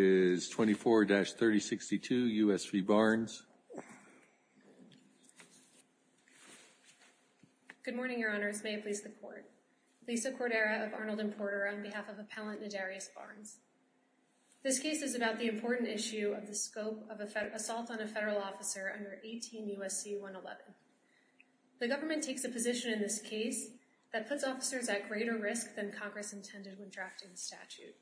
Good morning, your honors. May it please the court. Lisa Cordera of Arnold & Porter on behalf of Appellant Nadarius Barnes. This case is about the important issue of the scope of assault on a federal officer under 18 U.S.C. 111. The government takes a position in this case that puts officers at greater risk than Congress intended when drafting the statute.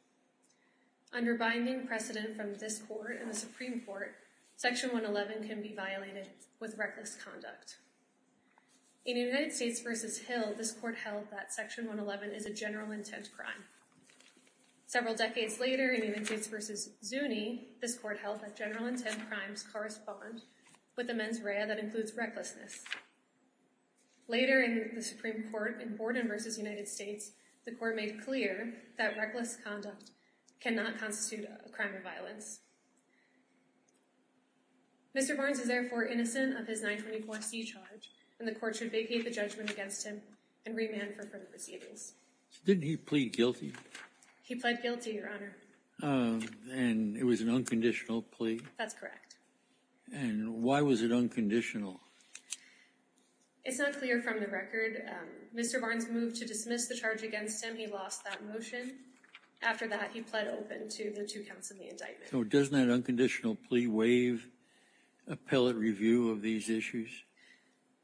Under binding precedent from this court and the Supreme Court, Section 111 can be violated with reckless conduct. In United States v. Hill, this court held that Section 111 is a general intent crime. Several decades later, in United States v. Zuni, this court held that general intent crimes correspond with a mens rea that includes recklessness. Later in the Supreme Court, in Borden v. United States, the court made clear that reckless conduct cannot constitute a crime of violence. Mr. Barnes is therefore innocent of his 924C charge and the court should vacate the judgment against him and remand for further proceedings. So didn't he plead guilty? He plead guilty, your honor. And it was an unconditional plea? That's correct. And why was it unconditional? It's not clear from the record. Mr. Barnes moved to dismiss the charge against him. He lost that motion. After that, he pled open to the two counts of the indictment. So doesn't that unconditional plea waive appellate review of these issues?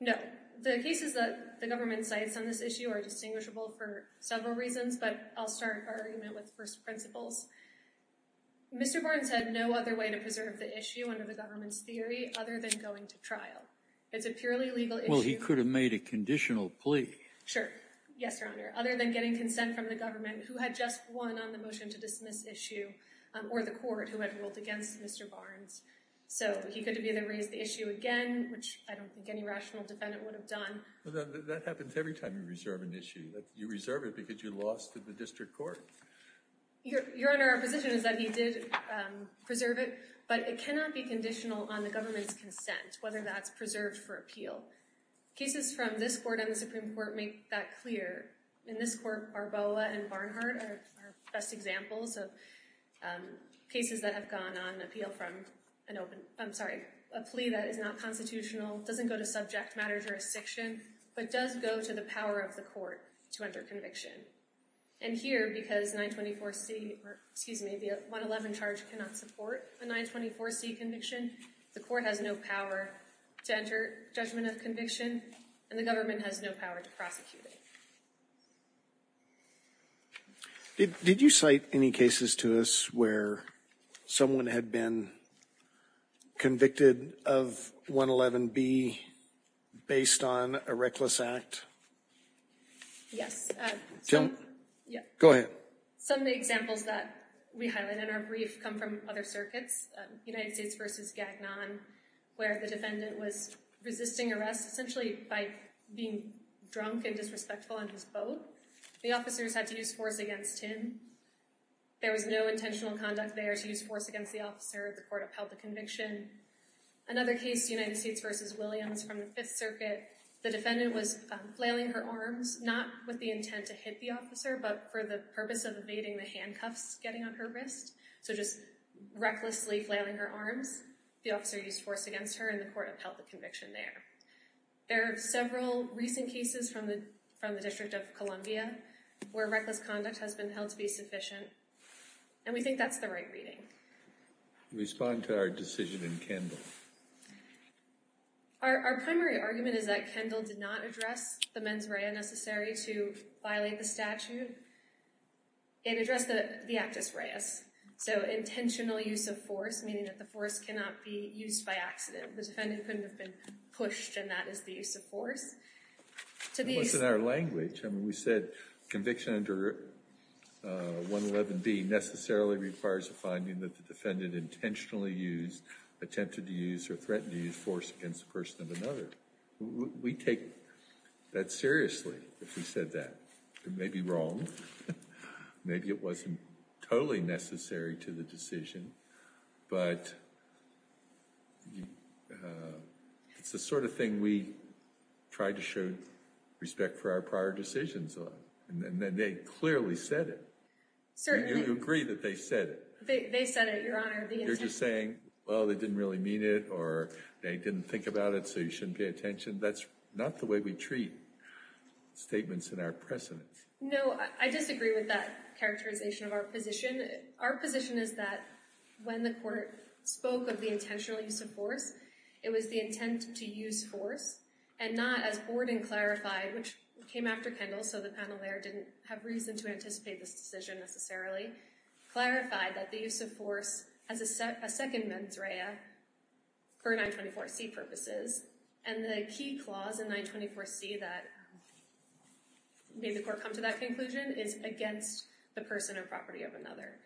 No. The cases that the government cites on this issue are distinguishable for several reasons, but I'll start our argument with first principles. Mr. Barnes had no other way to preserve the issue under the government's theory other than going to trial. It's a purely legal issue. Well, he could have made a conditional plea. Sure. Yes, your honor. Other than getting consent from the government who had just won on the motion to dismiss issue or the court who had ruled against Mr. Barnes. So he could have either raised the issue again, which I don't think any rational defendant would have done. That happens every time you reserve an issue. You reserve it because you lost to the district court. Your honor, our position is that he did preserve it, but it cannot be conditional on the government's consent, whether that's preserved for appeal. Cases from this court and the Supreme Court make that clear. In this court, Barboa and Barnhart are best examples of cases that have gone on appeal from an open, I'm sorry, a plea that is not constitutional, doesn't go to subject matter jurisdiction, but does go to the power of the court to enter conviction. And here, because 924C, or excuse me, the 111 charge cannot support a 924C conviction, the court has no power to enter judgment of conviction, and the government has no power to prosecute it. Did you cite any cases to us where someone had been convicted of 111B based on a reckless act? Yes. Go ahead. Some of the examples that we highlight in our brief come from other circuits, United States v. Gagnon, where the defendant was resisting arrest essentially by being drunk and disrespectful in his boat. The officers had to use force against him. There was no intentional conduct there to use force against the officer. The evidence from the Fifth Circuit, the defendant was flailing her arms, not with the intent to hit the officer, but for the purpose of evading the handcuffs getting on her wrist. So just recklessly flailing her arms, the officer used force against her, and the court upheld the conviction there. There are several recent cases from the District of Columbia where reckless conduct has been held to be sufficient, and we think that's the right reading. Respond to our decision in Kendall. Our primary argument is that Kendall did not address the mens rea necessary to violate the statute. It addressed the actus reus, so intentional use of force, meaning that the force cannot be used by accident. The defendant couldn't have been pushed, and that is the use of force. To be— It wasn't in our language. I mean, we said conviction under 111B necessarily requires a finding that the defendant intentionally used, attempted to use, or threatened to use force against the person of another. We take that seriously if we said that. It may be wrong. Maybe it wasn't totally necessary to the decision, but it's the sort of thing we try to show respect for our prior decisions on, and they clearly said it. Do you agree that they said it? They said it, Your Honor. You're just saying, well, they didn't really mean it, or they didn't think about it, so you shouldn't pay attention. That's not the way we treat statements in our precedents. No, I disagree with that characterization of our position. Our position is that when the court spoke of the intentional use of force, it was the intent to use force, and not, as Borden clarified, which came after Kendall, so the panel there didn't have reason to anticipate this decision necessarily, clarified that the use of force as a second mens rea for 924C purposes, and the key clause in 924C that made the court come to that conclusion is against the person or property of another.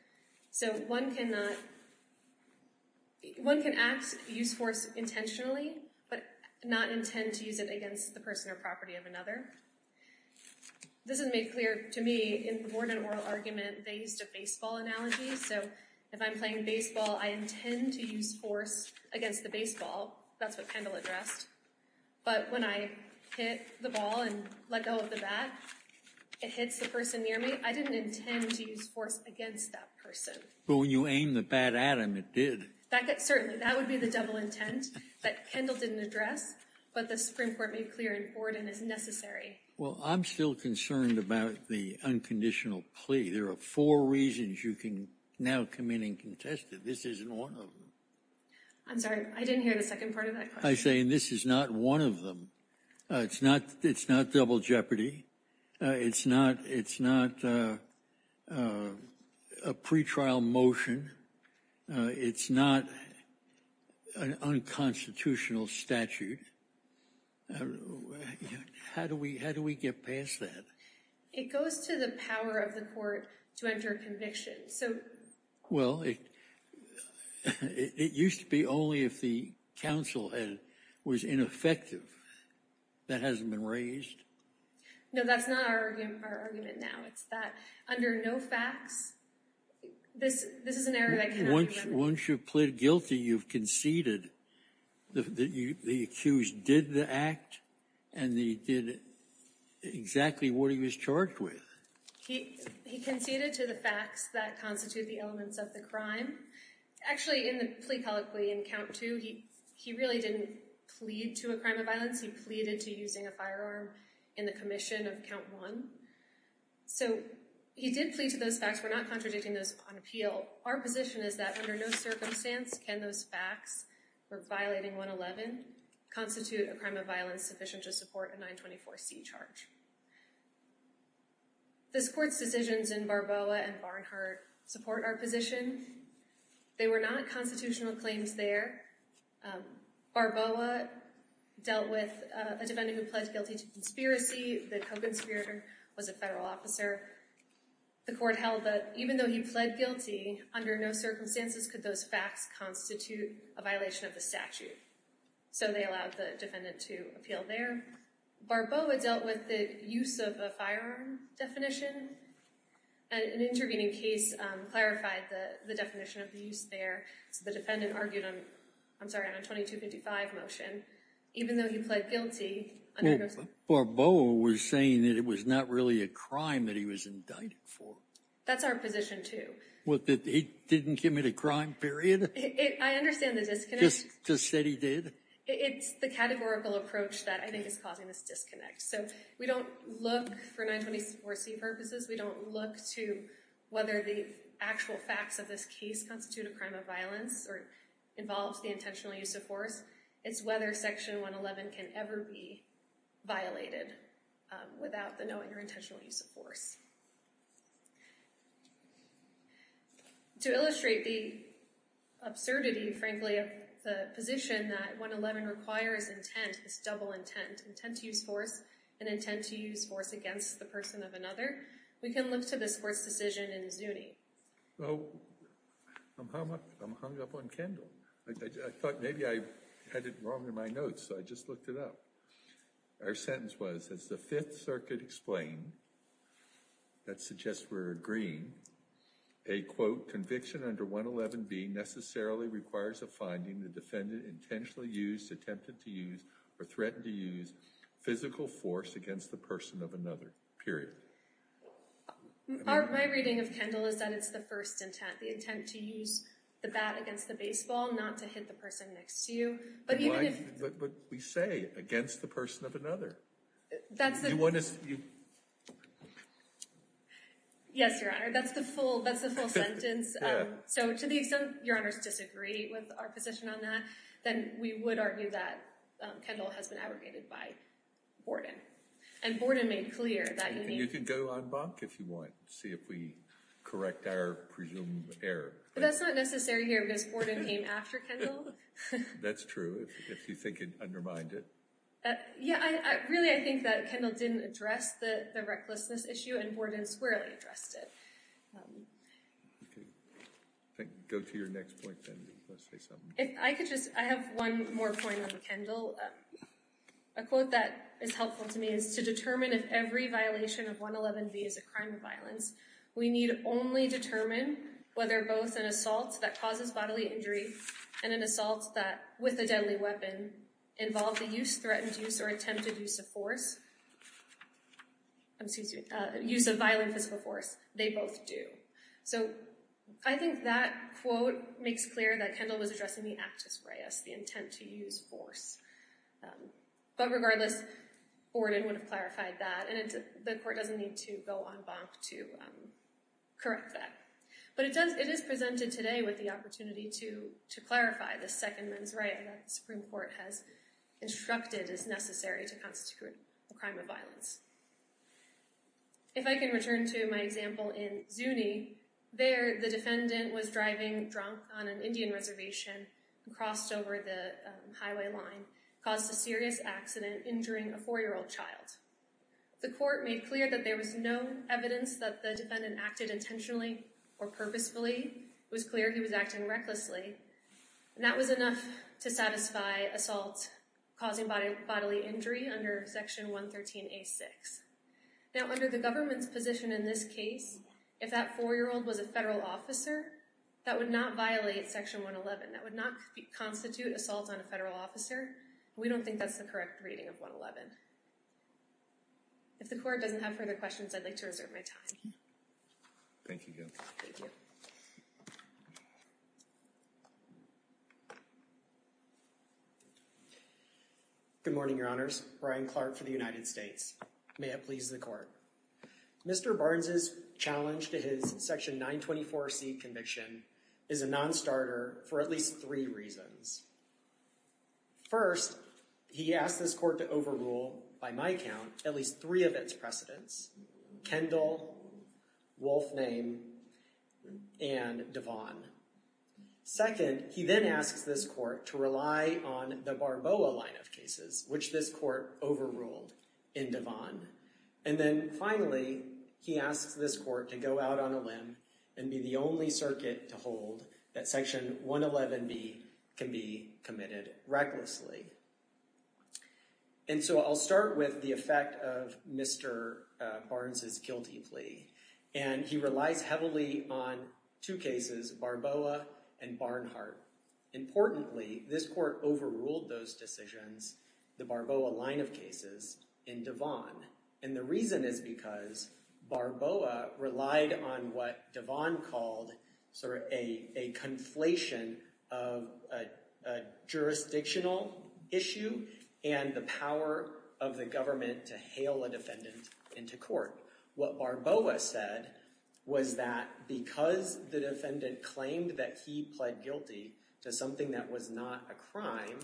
So one cannot— One cannot intend to use it against the person or property of another. This is made clear to me in the Borden oral argument, they used a baseball analogy, so if I'm playing baseball, I intend to use force against the baseball. That's what Kendall addressed. But when I hit the ball and let go of the bat, it hits the person near me. I didn't intend to use force against that person. But when you aimed the bat at him, it did. That—certainly, that would be the double intent that Kendall didn't address, but the Supreme Court made clear in Borden as necessary. Well, I'm still concerned about the unconditional plea. There are four reasons you can now come in and contest it. This isn't one of them. I'm sorry, I didn't hear the second part of that question. I say, and this is not one of them. It's not—it's not double jeopardy. It's not—it's not a pretrial motion. It's not an unconstitutional statute. How do we—how do we get past that? It goes to the power of the court to enter a conviction. So— Well, it—it used to be only if the counsel was ineffective. That hasn't been raised. No, that's not our argument now. It's that under no facts, this—this is an error that cannot be— Once you've pleaded guilty, you've conceded that the accused did the act and that he did exactly what he was charged with. He—he conceded to the facts that constitute the elements of the crime. Actually, in the plea colloquy in count two, he—he really didn't plead to a crime of violence. He pleaded to using a firearm in the commission of count one. So he did plead to those facts. We're not contradicting those on appeal. Our position is that under no circumstance can those facts for violating 111 constitute a crime of violence sufficient to support a 924C charge. This court's decisions in Barboa and Barnhart support our position. They were not constitutional claims there. Barboa dealt with a defendant who pled guilty to conspiracy. The co-conspirator was a federal officer. The court held that even though he pled guilty, under no circumstances could those facts constitute a violation of the statute. So they allowed the defendant to appeal there. Barboa dealt with the use of a firearm definition. An intervening case clarified the—the definition of the use there. So the defendant argued on—I'm sorry, on a 2255 motion. Even though he pled guilty— Well, Barboa was saying that it was not really a crime that he was indicted for. That's our position, too. What, that he didn't commit a crime, period? It—I understand the disconnect. Just—just said he did? It's the categorical approach that I think is causing this disconnect. So we don't look for 924C purposes. We don't look to whether the actual facts of this case constitute a crime of violence or involves the intentional use of force. It's whether Section 111 can ever be violated without the knowing or intentional use of force. To illustrate the absurdity, frankly, of the position that 111 requires intent, this double intent, intent to use force and intent to use force against the person of another, we can look to this court's decision in Zuni. Oh, I'm hung up on Kendall. I thought maybe I had it wrong in my notes, so I just looked it up. Our sentence was, as the Fifth Circuit explained, that suggests we're agreeing, a, quote, conviction under 111B necessarily requires a finding the defendant intentionally used, attempted to use, or threatened to use physical force against the person of another, period. My reading of Kendall is that it's the first intent, the intent to use the bat against the baseball, not to hit the person next to you, but even if— But why—but we say against the person of another. That's the— You want to— Yes, Your Honor, that's the full—that's the full sentence. Yeah. So to the extent Your Honors disagree with our position on that, then we would argue that Kendall has been abrogated by Borden. And Borden made clear that— And you can go on bonk if you want, see if we correct our presumed error. But that's not necessary here because Borden came after Kendall. That's true, if you think it undermined it. Yeah, really I think that Kendall didn't address the recklessness issue and Borden squarely addressed it. Okay. Go to your next point, then, if you want to say something. If I could just—I have one more point on Kendall. A quote that is helpful to me is, To determine if every violation of 111V is a crime or violence, we need only determine whether both an assault that causes bodily injury and an assault that, with a deadly weapon, involve the use, threatened use, or attempted use of force— I'm sorry, excuse me—use of violent physical force, they both do. So, I think that quote makes clear that Kendall was addressing the actus reus, the intent to use force. But regardless, Borden would have clarified that, and the court doesn't need to go on bonk to correct that. But it does—it is presented today with the opportunity to clarify the second mens rea that the Supreme Court has instructed is necessary to constitute a crime of violence. If I can return to my example in Zuni, there, the defendant was driving drunk on an Indian reservation, crossed over the highway line, caused a serious accident, injuring a 4-year-old child. The court made clear that there was no evidence that the defendant acted intentionally or purposefully. It was clear he was acting recklessly, and that was enough to satisfy assault causing bodily injury under Section 113A.6. Now, under the government's position in this case, if that 4-year-old was a federal officer, that would not violate Section 111. That would not constitute assault on a federal officer. We don't think that's the correct reading of 111. If the court doesn't have further questions, I'd like to reserve my time. Thank you. Thank you. Good morning, your honors. Brian Clark for the United States. May it please the court. Mr. Barnes's challenge to his Section 924C conviction is a non-starter for at least three reasons. First, he asked this court to overrule, by my count, at least three of its precedents, Kendall, Wolfname, and Devon. Second, he then asks this court to rely on the Barboa line of cases, which this court overruled in Devon. And then finally, he asks this court to go out on a limb and be the only circuit to hold that Section 111B can be committed recklessly. And so I'll start with the effect of Mr. Barnes's guilty plea. And he relies heavily on two cases, Barboa and Barnhart. Importantly, this court overruled those decisions, the Barboa line of cases, in Devon. And the reason is because Barboa relied on what Devon called sort of a conflation of a jurisdictional issue and the power of the government to hail a defendant into court. What Barboa said was that because the defendant claimed that he pled guilty to something that was not a crime,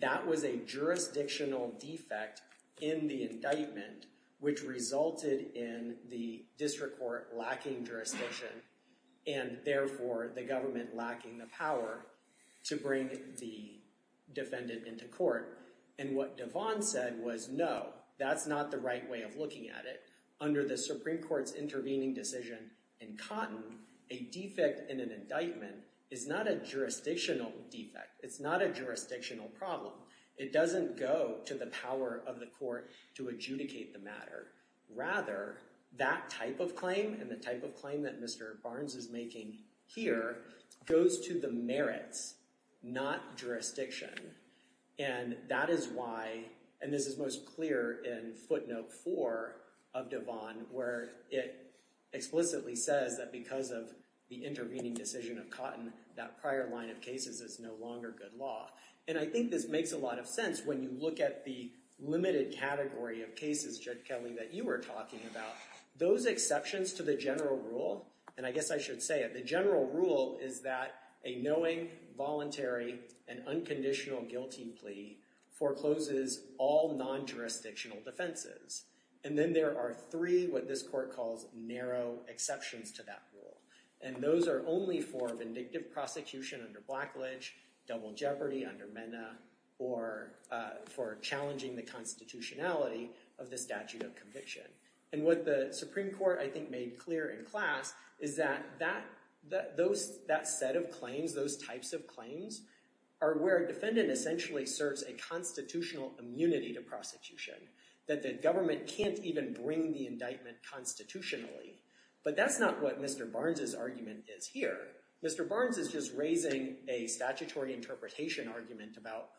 that was a jurisdictional defect in the indictment, which resulted in the district court lacking jurisdiction, and therefore the government lacking the power to bring the defendant into court. And what Devon said was, no, that's not the right way of looking at it. Under the Supreme Court's intervening decision in Cotton, a defect in an indictment is not a jurisdictional defect. It's not a jurisdictional problem. It doesn't go to the power of the court to adjudicate the matter. Rather, that type of claim and the type of claim that Mr. Barnes is making here goes to the merits, not jurisdiction. And that is why, and this is most clear in footnote four of Devon, where it explicitly says that because of the intervening decision of Cotton, that prior line of cases is no longer good law. And I think this makes a lot of sense when you look at the limited category of cases, Judge Kelly, that you were talking about. Those exceptions to the general rule, and I guess I should say it, the general rule is that a knowing, voluntary, and unconditional guilty plea forecloses all non-jurisdictional defenses. And then there are three, what this court calls narrow exceptions to that rule. And those are only for vindictive prosecution under Blackledge, double jeopardy under Mena, or for challenging the constitutionality of the statute of conviction. And what the Supreme Court, I think, made clear in class is that that set of claims, those types of claims, are where a defendant essentially serves a constitutional immunity to prosecution. That the government can't even bring the indictment constitutionally. But that's not what Mr. Barnes' argument is here. Mr. Barnes is just raising a statutory interpretation argument about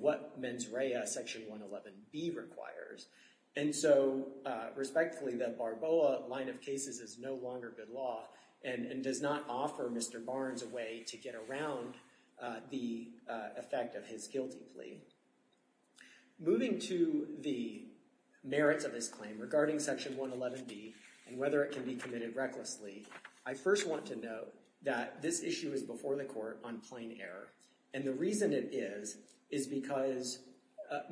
what mens rea, section 111b requires. And so, respectfully, the Barboa line of cases is no longer good law and does not offer Mr. Barnes a way to get around the effect of his guilty plea. Moving to the merits of this claim regarding section 111b and whether it can be committed recklessly, I first want to note that this issue is before the court on plain error. And the reason it is, is because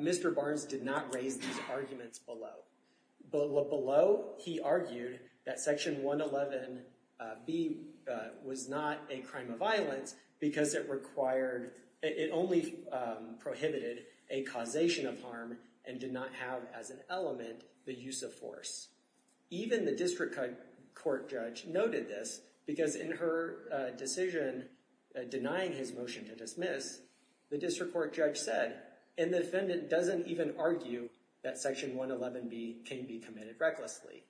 Mr. Barnes did not raise these arguments below. Below, he argued that section 111b was not a crime of violence because it only prohibited a causation of harm and did not have as an element the use of force. Even the district court judge noted this because in her decision denying his motion to dismiss, the district court judge said, and the defendant doesn't even argue that section 111b can be committed recklessly.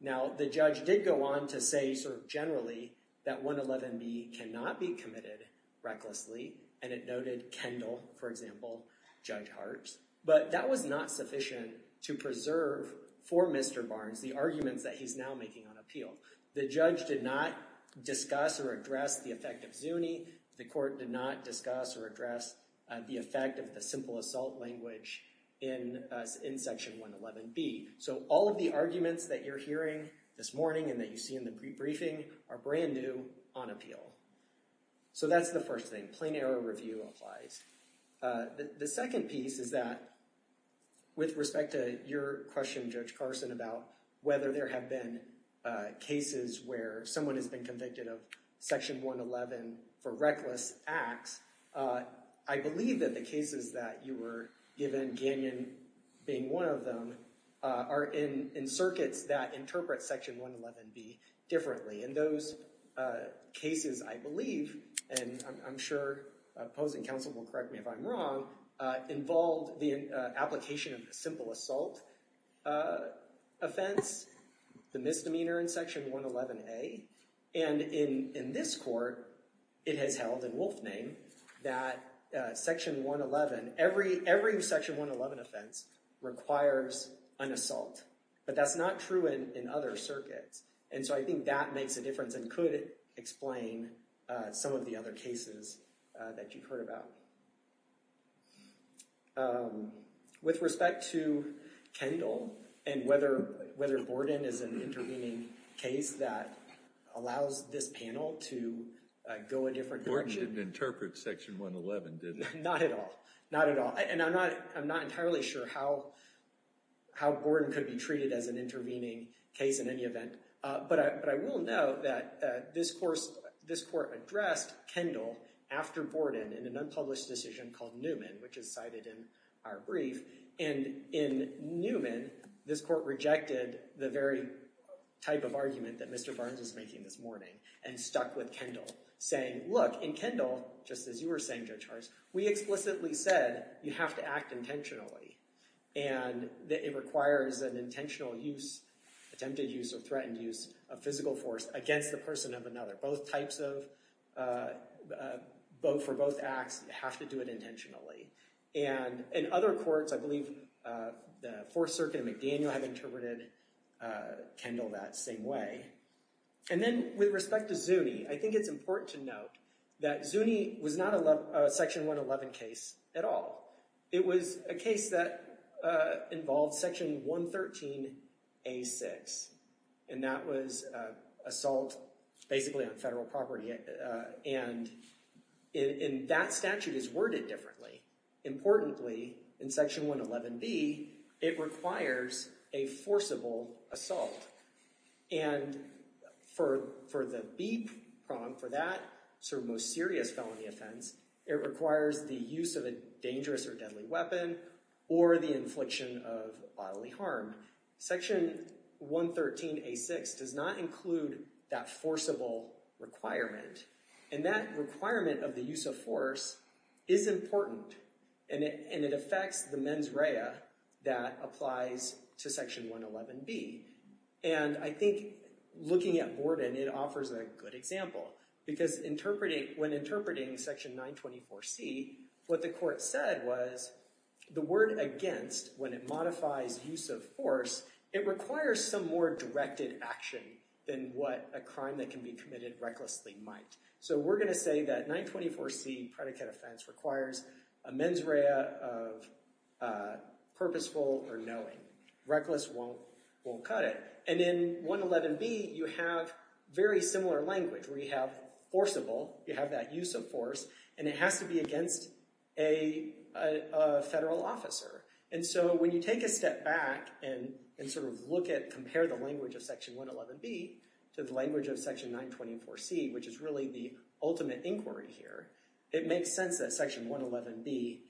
Now, the judge did go on to say, sort of generally, that 111b cannot be committed recklessly. And it noted Kendall, for example, Judge Hartz. But that was not sufficient to preserve for Mr. Barnes the arguments that he's now making on appeal. The judge did not discuss or address the effect of Zuni. The court did not discuss or address the effect of the simple assault language in section 111b. So, all of the arguments that you're hearing this morning and that you see in the briefing are brand new on appeal. So, that's the first thing. Plain error review applies. The second piece is that with respect to your question, Judge Carson, about whether there have been cases where someone has been convicted of section 111 for reckless acts, I believe that the cases that you were given, Gagnon being one of them, are in circuits that interpret section 111b differently. And those cases, I believe, and I'm sure opposing counsel will correct me if I'm wrong, involved the application of the simple assault offense, the misdemeanor in section 111a. And in this court, it has held in wolf name that section 111, every section 111 offense requires an assault. But that's not true in other circuits. And so, I think that makes a difference and could explain some of the other cases that you've heard about. With respect to Kendall and whether Borden is an intervening case that allows this panel to go a different direction. Borden didn't interpret section 111, did he? Not at all. Not at all. And I'm not entirely sure how Borden could be treated as an intervening case in any event. But I will note that this court addressed Kendall after Borden in an unpublished decision called Newman, which is cited in our brief. And in Newman, this court rejected the very type of argument that Mr. Barnes was making this morning and stuck with Kendall, saying, look, in Kendall, just as you were saying, Judge Hartz, we explicitly said you have to act intentionally. And that it requires an intentional use, attempted use, or threatened use of physical force against the person of another. Both types of, for both acts, you have to do it intentionally. And in other courts, I believe the Fourth Circuit and McDaniel have interpreted Kendall that same way. And then with respect to Zuni, I think it's important to note that Zuni was not a section 111 case at all. It was a case that involved section 113A6. And that was assault basically on federal property. And that statute is worded differently. Importantly, in section 111B, it requires a forcible assault. And for the B problem, for that sort of most serious felony offense, it requires the use of a dangerous or deadly weapon or the infliction of bodily harm. Section 113A6 does not include that forcible requirement. And that requirement of the use of force is important. And it affects the mens rea that applies to section 111B. And I think looking at Borden, it offers a good example. Because when interpreting section 924C, what the court said was the word against, when it modifies use of force, it requires some more directed action than what a crime that can be committed recklessly might. So we're going to say that 924C predicate offense requires a mens rea of purposeful or knowing. Reckless won't cut it. And in 111B, you have very similar language where you have forcible, you have that use of force, and it has to be against a federal officer. And so when you take a step back and sort of look at, compare the language of section 111B to the language of section 924C, which is really the ultimate inquiry here, it makes sense that section 111B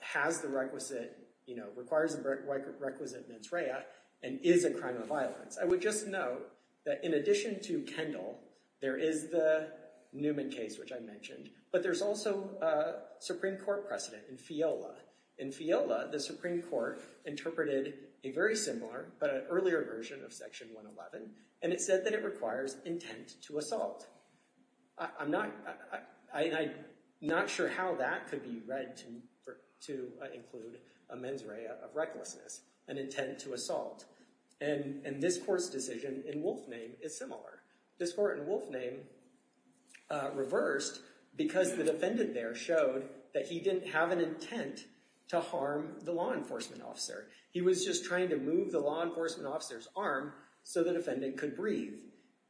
has the requisite, you know, requires a requisite mens rea and is a crime of violence. I would just note that in addition to Kendall, there is the Newman case, which I mentioned. But there's also a Supreme Court precedent in FIOLA. In FIOLA, the Supreme Court interpreted a very similar but an earlier version of section 111, and it said that it requires intent to assault. I'm not, I'm not sure how that could be read to include a mens rea of recklessness, an intent to assault. And this court's decision in Wolfname is similar. This court in Wolfname reversed because the defendant there showed that he didn't have an intent to harm the law enforcement officer. He was just trying to move the law enforcement officer's arm so the defendant could breathe.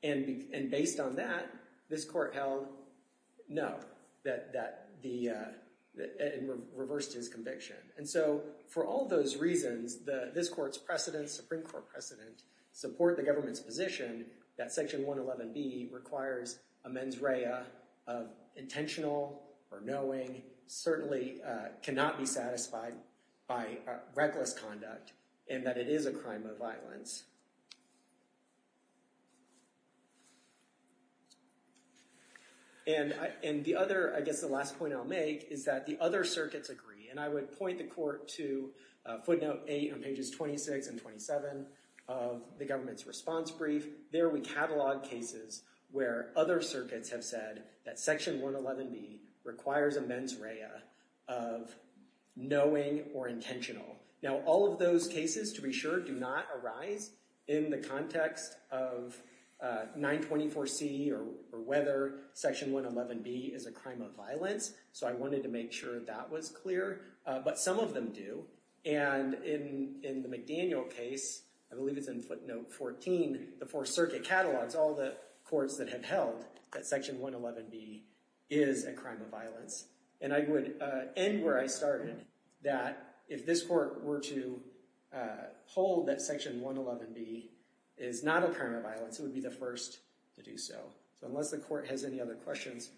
And based on that, this court held no, that the, it reversed his conviction. And so for all those reasons, this court's precedent, Supreme Court precedent, support the government's position that section 111B requires a mens rea of intentional or knowing, certainly cannot be satisfied by reckless conduct and that it is a crime of violence. And the other, I guess the last point I'll make is that the other circuits agree. And I would point the court to footnote 8 on pages 26 and 27 of the government's response brief. There we catalog cases where other circuits have said that section 111B requires a mens rea of knowing or intentional. Now all of those cases, to be sure, do not arise in the context of 924C or whether section 111B is a crime of violence. So I wanted to make sure that that was clear. But some of them do. And in the McDaniel case, I believe it's in footnote 14, the Fourth Circuit catalogs all the courts that have held that section 111B is a crime of violence. And I would end where I started, that if this court were to hold that section 111B is not a crime of violence, it would be the first to do so. So unless the court has any other questions,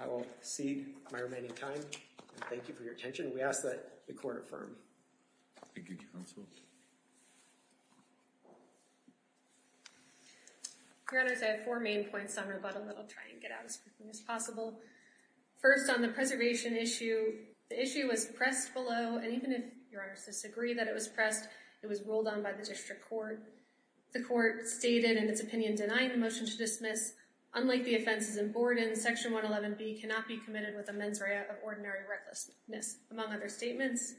I will cede my remaining time. Thank you for your attention. And we ask that the court affirm. Thank you, counsel. Your Honors, I have four main points on rebuttal that I'll try and get out as quickly as possible. First, on the preservation issue, the issue was pressed below. And even if Your Honors disagree that it was pressed, it was rolled on by the district court. The court stated in its opinion denying the motion to dismiss, unlike the offenses in among other statements.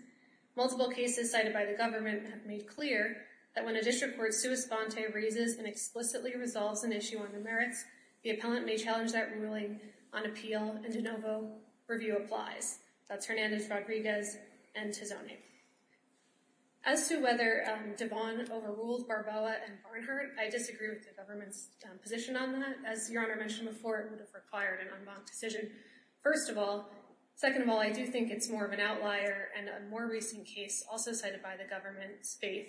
Multiple cases cited by the government have made clear that when a district court sua sponte raises and explicitly resolves an issue on the merits, the appellant may challenge that ruling on appeal. And de novo, review applies. That's Hernandez, Rodriguez, and Tizone. As to whether Devon overruled Barboa and Barnhart, I disagree with the government's position on that. As Your Honor mentioned before, it would have required an en banc decision, first of all. Second of all, I do think it's more of an outlier. And a more recent case, also cited by the government's faith,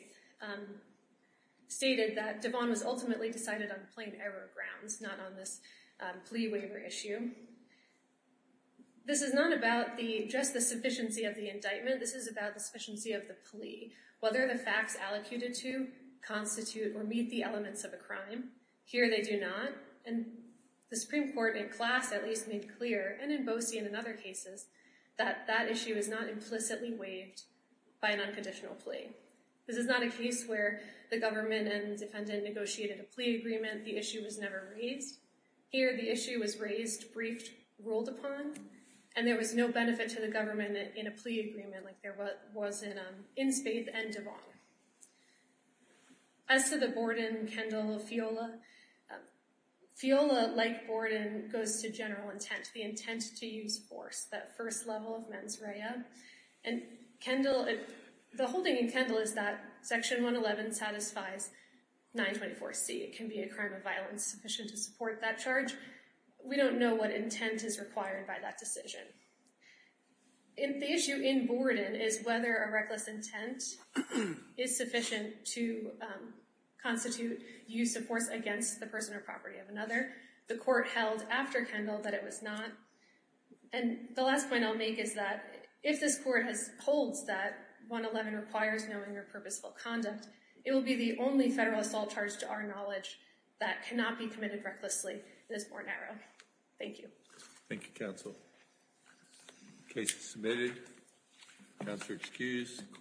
stated that Devon was ultimately decided on plain error grounds, not on this plea waiver issue. This is not about just the sufficiency of the indictment. This is about the sufficiency of the plea. Whether the facts allocated to constitute or meet the elements of a crime, here they do not. And the Supreme Court in class at least made clear, and in Boese and in other cases, that that issue is not implicitly waived by an unconditional plea. This is not a case where the government and defendant negotiated a plea agreement, the issue was never raised. Here the issue was raised, briefed, ruled upon, and there was no benefit to the government in a plea agreement like there was in Spaith and Devon. As to the Borden-Kendall-Fiola, Fiola, like Borden, goes to general intent, the intent to use force, that first level of mens rea. And the whole thing in Kendall is that Section 111 satisfies 924C. It can be a crime of violence sufficient to support that charge. We don't know what intent is required by that decision. And the issue in Borden is whether a reckless intent is sufficient to constitute use of force against the person or property of another. The court held after Kendall that it was not. And the last point I'll make is that if this court holds that 111 requires knowing or purposeful conduct, it will be the only federal assault charge to our knowledge that cannot be committed recklessly, and is more narrow. Thank you. Thank you, counsel. The case is submitted. Counsel is excused.